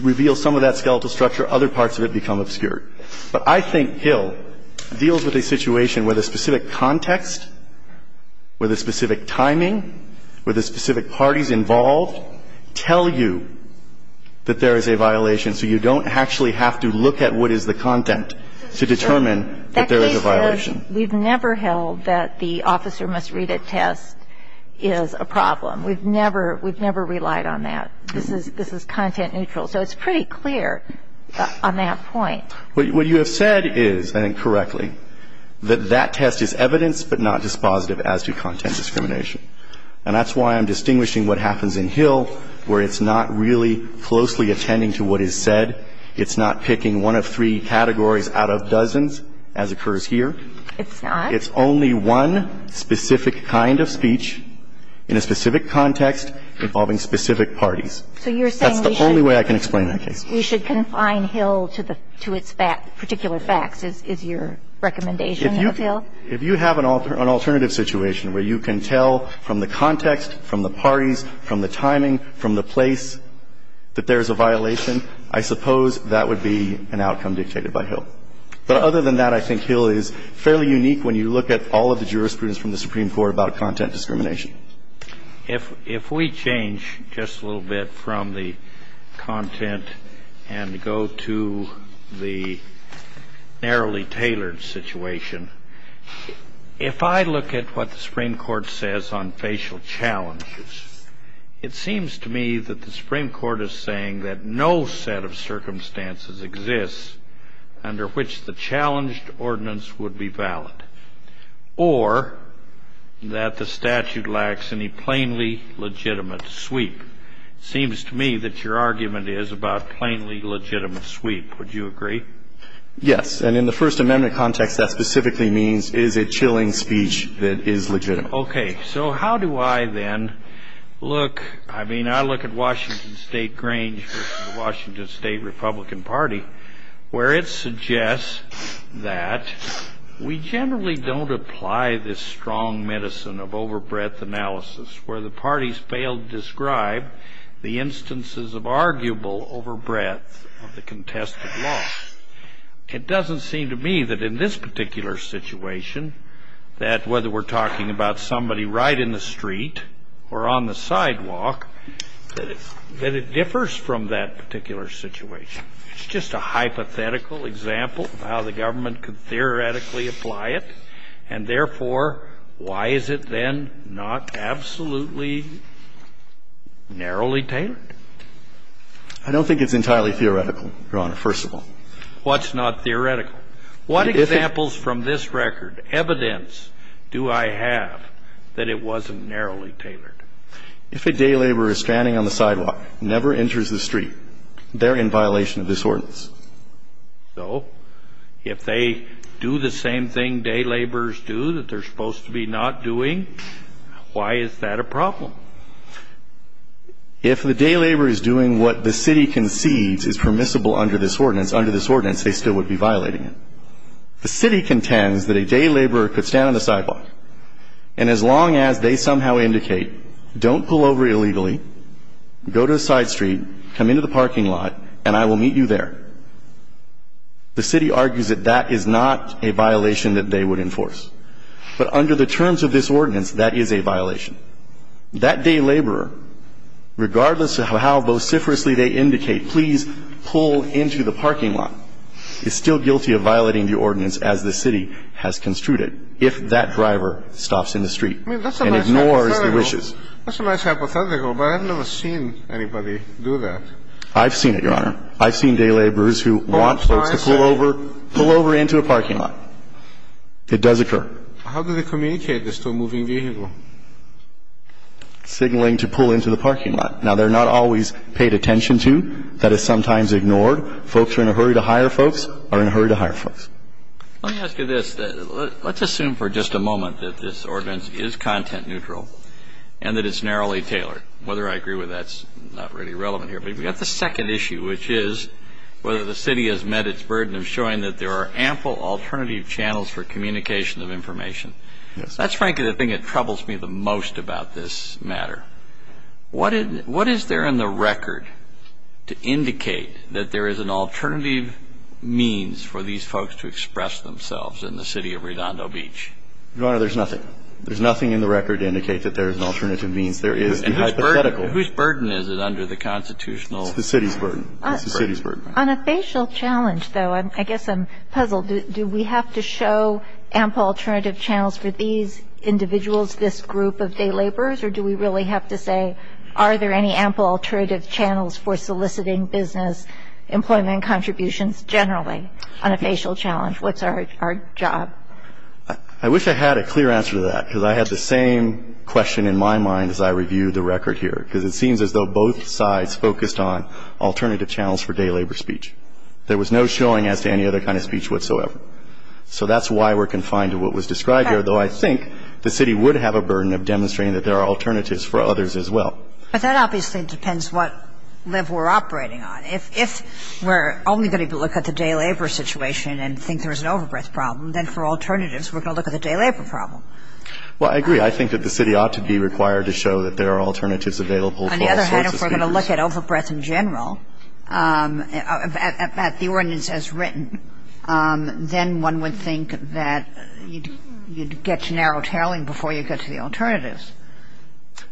reveal some of that skeletal structure, other parts of it become obscured. But I think Hill deals with a situation where the specific context, where the specific timing, where the specific parties involved tell you that there is a violation so you don't actually have to look at what is the content to determine that there is a violation. We've never held that the officer must read a test is a problem. We've never relied on that. This is content neutral. So it's pretty clear on that point. What you have said is, I think correctly, that that test is evidence but not dispositive as to content discrimination. And that's why I'm distinguishing what happens in Hill where it's not really closely attending to what is said. It's not picking one of three categories out of dozens, as occurs here. It's not? It's only one specific kind of speech in a specific context involving specific parties. So you're saying we should... That's the only way I can explain that case. ...we should confine Hill to its particular facts, is your recommendation of Hill? If you have an alternative situation where you can tell from the context, from the parties, from the timing, from the place that there is a violation, I suppose that would be an outcome dictated by Hill. But other than that, I think Hill is fairly unique when you look at all of the jurisprudence from the Supreme Court about content discrimination. If we change just a little bit from the content and go to the narrowly tailored situation, if I look at what the Supreme Court says on facial challenges, it seems to me that the Supreme Court is saying that no set of circumstances exists under which the challenged ordinance would be valid or that the statute lacks any plainly legitimate sweep. It seems to me that your argument is about plainly legitimate sweep. Would you agree? Yes. And in the First Amendment context, that specifically means is it chilling speech that is legitimate? Okay. So how do I then look? I mean, I look at Washington State Grange versus the Washington State Republican Party where it suggests that we generally don't apply this strong medicine of overbreadth analysis where the parties fail to describe the instances of arguable overbreadth of the contested law. It doesn't seem to me that in this particular situation that whether we're talking about somebody right in the street or on the sidewalk that it differs from that particular situation. It's just a hypothetical example of how the government could theoretically apply it and therefore why is it then not absolutely narrowly tailored? I don't think it's entirely theoretical, Your Honor, first of all. What's not theoretical? What examples from this record, evidence, do I have that it wasn't narrowly tailored? If a day laborer is standing on the sidewalk and never enters the street, they're in violation of this ordinance. So, if they do the same thing day laborers do that they're supposed to be not doing, why is that a problem? If the day laborer is doing what the city concedes is permissible under this ordinance, under this ordinance they still would be violating it. The city contends that a day laborer could stand on the sidewalk and as long as they somehow indicate don't pull over illegally, go to a side street, come into the parking lot, and I will meet you there. The city argues that that is not a violation that they would enforce. But under the terms of this ordinance that is a violation. That day laborer, regardless of how vociferously they indicate please pull into the parking lot is still guilty of violating the ordinance as the city has construed it if that driver stops in the street and ignores the wishes. That's a nice hypothetical but I've never seen anybody do that. I've seen it, Your Honor. I've seen day laborers who want folks to pull over pull over into a parking lot. It does occur. How do they communicate this to a moving vehicle? Signaling to pull into the parking lot. Now, they're not always paid attention to that is sometimes ignored. Folks who are in a hurry to hire folks are in a hurry to hire folks. Let me ask you this. Let's assume for just a moment that this ordinance is content neutral and that it's narrowly tailored. Whether I agree with that is not really relevant here. But you've got the second issue which is whether the city has met its burden of showing that there are ample alternative channels for communication of information. Yes. That's frankly the thing that troubles me the most about this matter. What is there in the record to indicate that there is an alternative means for these folks to express themselves in the city of Redondo Beach? Your Honor, there's nothing. There's nothing in the record to indicate that there is an alternative means. There is the hypothetical. Whose burden is it under the constitutional It's the city's burden. It's the city's burden. On a facial challenge though I guess I'm puzzled. Do we have to show ample alternative channels for these individuals this group of day laborers or do we really have to say are there any ample alternative channels for soliciting business employment contributions generally on a facial challenge? What's our job? I wish I had a clear answer to that because I had the same question in my mind as I reviewed the record here because it seems as though both sides focused on alternative channels for day labor speech. There was no showing as to any other kind of speech whatsoever. So that's why we're confined to what was described here though I think the city would have a burden of demonstrating that there are alternatives for others as well. But that obviously depends what level we're operating on. If we're only going to look at the day labor situation and think there's an overbreath problem then for alternatives we're going to look at the day labor problem. Well I agree. I think that the city ought to be required to show that there are alternatives available for all sorts of speakers. On the other hand if we're going to look at overbreath in general at the ordinance as written then one would think that you'd get to narrow tailing before you get to the alternatives.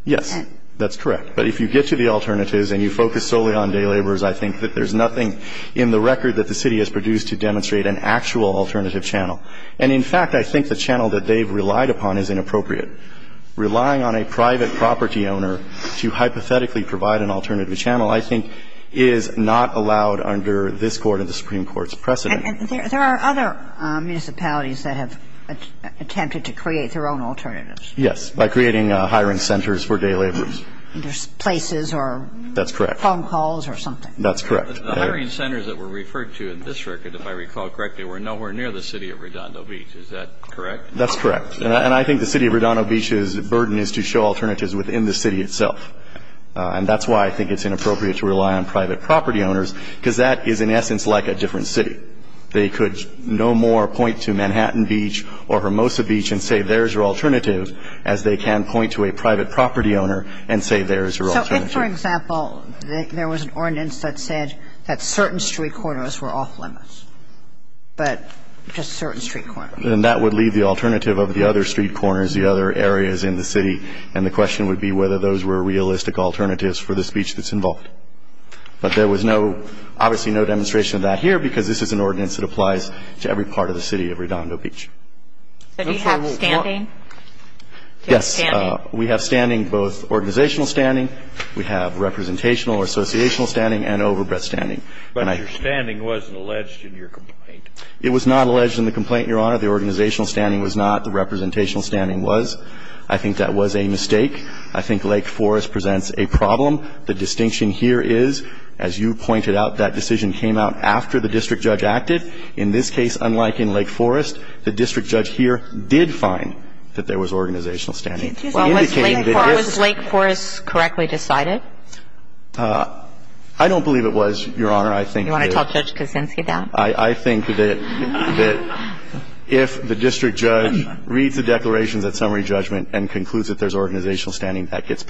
Yes. That's correct. But if you get to the alternatives and you focus solely on day laborers I think that there's nothing in the record that the city has produced to demonstrate an actual alternative channel. And in fact I think the channel that they've relied upon is inappropriate. Relying on a private property owner to hypothetically provide an alternative channel I think is not allowed under this court and the Supreme Court's precedent. And there are other municipalities that have attempted to create their own alternatives. Yes. By creating hiring centers for day laborers. Places or phone calls or something. That's correct. The hiring centers that were referred to in this record if I recall correctly were nowhere near the city of Hermosa Beach. They could no more point to Manhattan Beach or Hermosa Beach and say there's your alternative as they can point to a private property owner and say there's your alternative. So if for example there was an ordinance that said that certain street corners were off limits but just certain street corners. And that would leave the alternative of the other street corners, the other areas in the city and the question would be whether those were realistic alternatives for the speech that's involved. But there was obviously no demonstration of that here because this is an ordinance that applies to every part of the city of Redondo Beach. So do you have standing? Yes. We have standing both organizational standing. We have representational or associational standing and overbreadth standing. But your standing wasn't alleged in your complaint. It was not alleged in the complaint, Your Honor. The organizational standing was not. The representational standing was. I think that was a mistake. I think Lake Forest presents a problem. The distinction here is, as you pointed out, that decision came out after the district judge read the declarations at summary judgment and concludes that there's organizational standing, that gets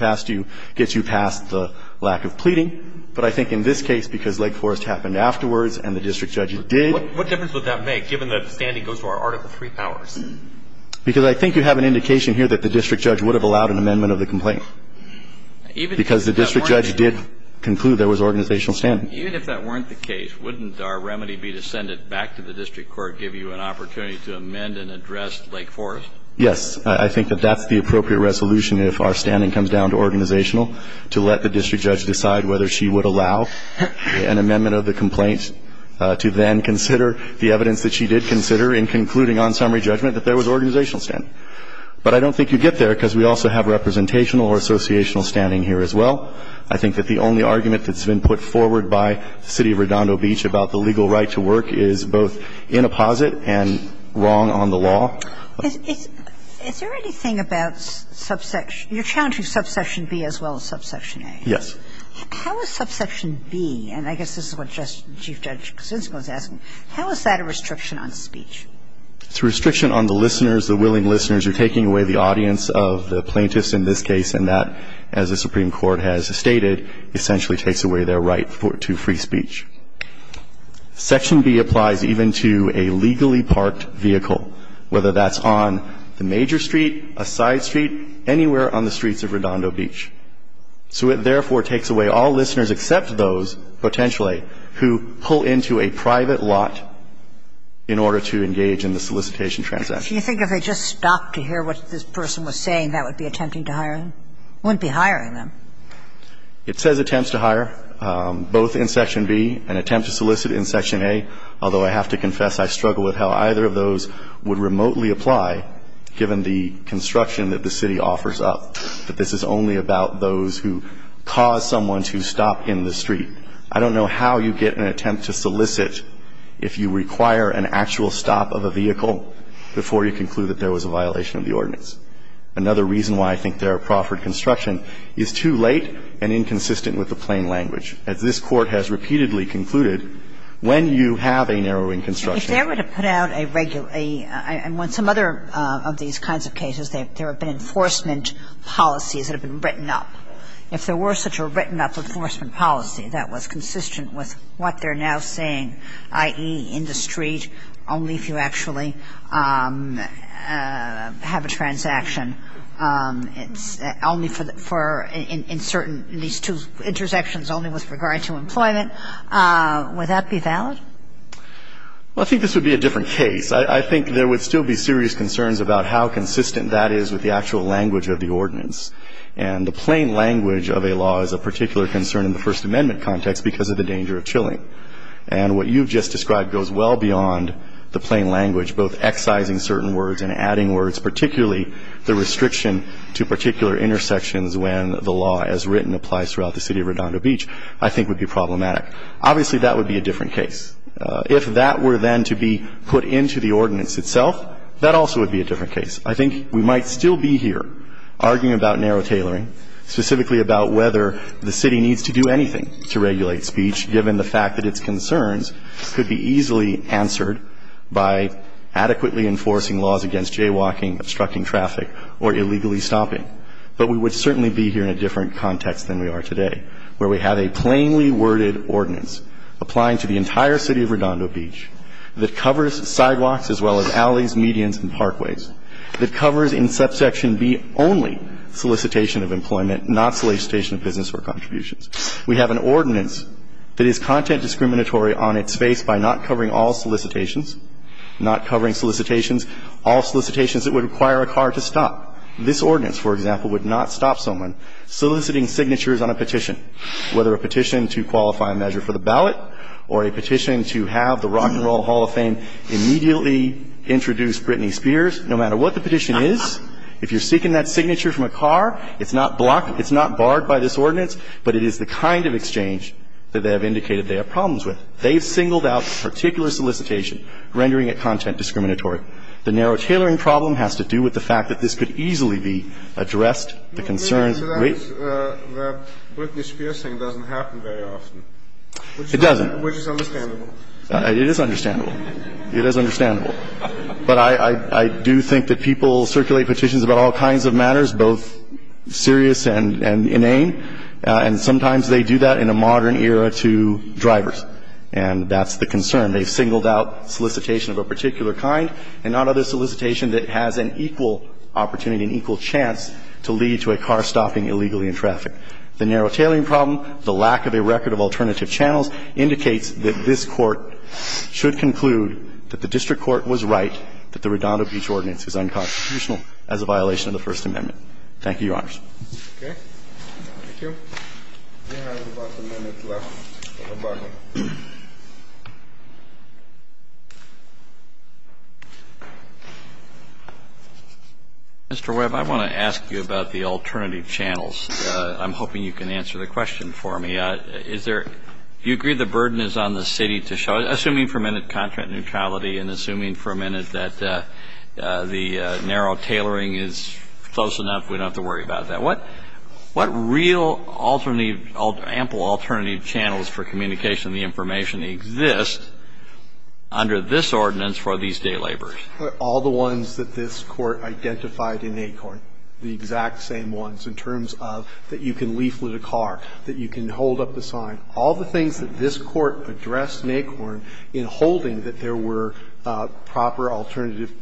you past the lack of pleading. But I think in this case because Lake Forest happened the district judge did What difference would that make given that the standing goes to our Article 3 powers? Because I think you have an indication here that the district judge would have allowed an amendment of the complaint because the district judge did conclude there was organizational standing. Even if that weren't the case, wouldn't our remedy be to send it back to the district court give you an opportunity to amend and address Lake Forest? Yes. I think that that's the appropriate resolution if our standing comes down to that. Because we also have representational or associational standing here as well. I think that the only argument that's been put forward by the City of Redondo Beach about the legal right to work is both inapposite and wrong on the law. Is there anything about subsection you're challenging subsection B as well as subsection A? Yes. How is subsection B and I guess this is what Chief Judge said, is that subsection B applies even to a legally parked vehicle, whether that's on the major street, a side street, anywhere on the streets of Redondo Beach. So it therefore takes away all listeners except those potentially who pull into a private lot in order to engage in an a vehicle. I don't know what this person was saying that would be attempting to hire them. Wouldn't be hiring them. It says attempts to hire, both in section B and attempt to solicit in section A, although I have to confess I don't know how you get an attempt to solicit if you require an actual stop of a vehicle before you conclude that there was a violation of the ordinance. Another reason why I think there are proffered construction is too late and inconsistent with the plain language as this Court has repeatedly concluded when you have a narrowing construction. If they were to put out some other of these kinds of cases, there have been enforcement policies that have been written up. If there were such a written up enforcement policy that was consistent with what they're now saying, i.e., in the street, if you have a transaction only for certain intersections only with regard to employment, would that be valid? Well, I think this would be a different case. I think there would still be serious concerns about how consistent that is with the actual language of the ordinance. And the plain language of a law is a very part of the ordinance. And the plain language, both excising certain words and adding words, particularly the restriction to particular intersections when the law as written applies throughout the city of Redondo Beach, that covers sidewalks as well as alleys, medians, and parkways, that covers in subsection B only solicitation of employment, not solicitation of business or contributions. We have an ordinance that is content discriminatory on its face by not covering all solicitations that would require a car to stop. This ordinance, for example, would not stop someone soliciting signatures on a petition, whether a petition to qualify a measure for the ballot or a petition to have the Rock and Roll Hall of Fame immediately introduce Britney Spears no matter what the petition is. If you're seeking that signature from a car, it's not barred by this ordinance, but it is the kind of exchange that they have indicated they have problems with. They've singled out particular solicitation rendering it content discriminatory. The narrow tailoring problem has to do with the fact that this could lead to a car stopping illegally in traffic. The narrow tailoring problem, the lack of a record of indicates that this Court should conclude that the district court was right that the Redondo Beach ordinance is unconstitutional. The narrow tailoring problem is unconstitutional as a violation of the First Amendment. Thank you, Your Honor. Mr. Webb, I want to ask you about the alternative channels. I'm hoping you can answer the question for me. Do you agree the burden is on the City to show it is unconstitutional? I'm assuming for a minute that the narrow tailoring is close enough. We don't have to worry about that. What real alternative channels for communication and information exist under this ordinance for these proper alternative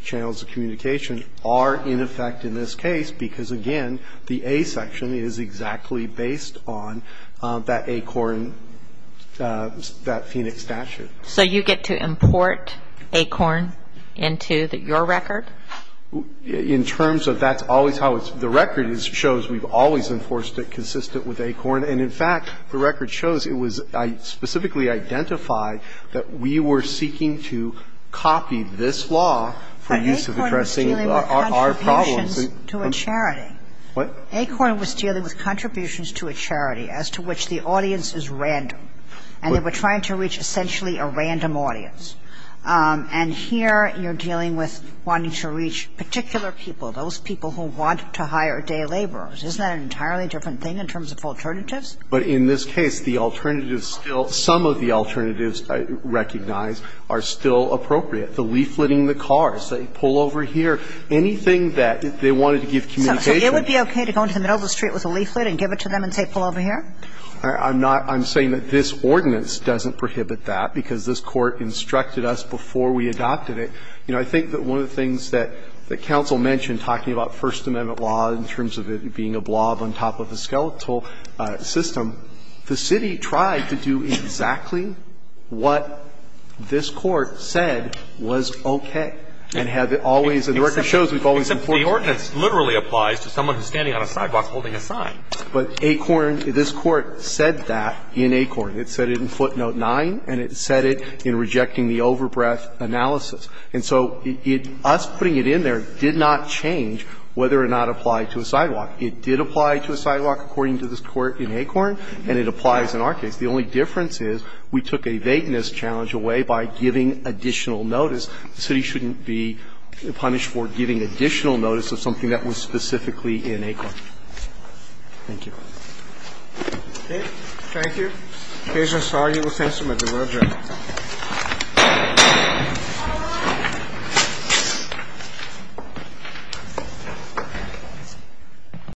channels of communication are in effect in this case because, again, the A section is exactly based on that ACORN statute. So you get to import ACORN into your record? In terms of that, the record shows we are dealing with contributions to a charity. ACORN was dealing with contributions to a charity as to which the audience is random. And we're trying to reach essentially a random audience. And here you're dealing with wanting to reach particular people, those people who want to hire day laborers. Isn't that an entirely different thing in terms of alternatives? But in this case, the alternatives still, some of the alternatives I recognize are still appropriate. The leafleting the cars, the pull over here, anything that they wanted to give communication. So it would be that. And one of the things that the council mentioned talking about first amendment law in terms of being a blob on top of the skeletal system, the city tried to do exactly what this court said was okay. And the record shows that the ordinance literally applies to someone standing on a sidewalk holding a sign. But this court said that in ACORN. It said it in footnote 9 and it said it in rejecting the overbreath analysis. And so us putting it in there did not change whether or not it applied to a sidewalk. It did apply to a sidewalk according to this court in ACORN and it applies in our case. The only difference is we took a vagueness challenge away by giving additional notice. The city shouldn't be punished for giving additional notice of something that was specifically in ACORN. Thank you. Okay. Thank you. In case you're sorry, we'll send somebody. Well done.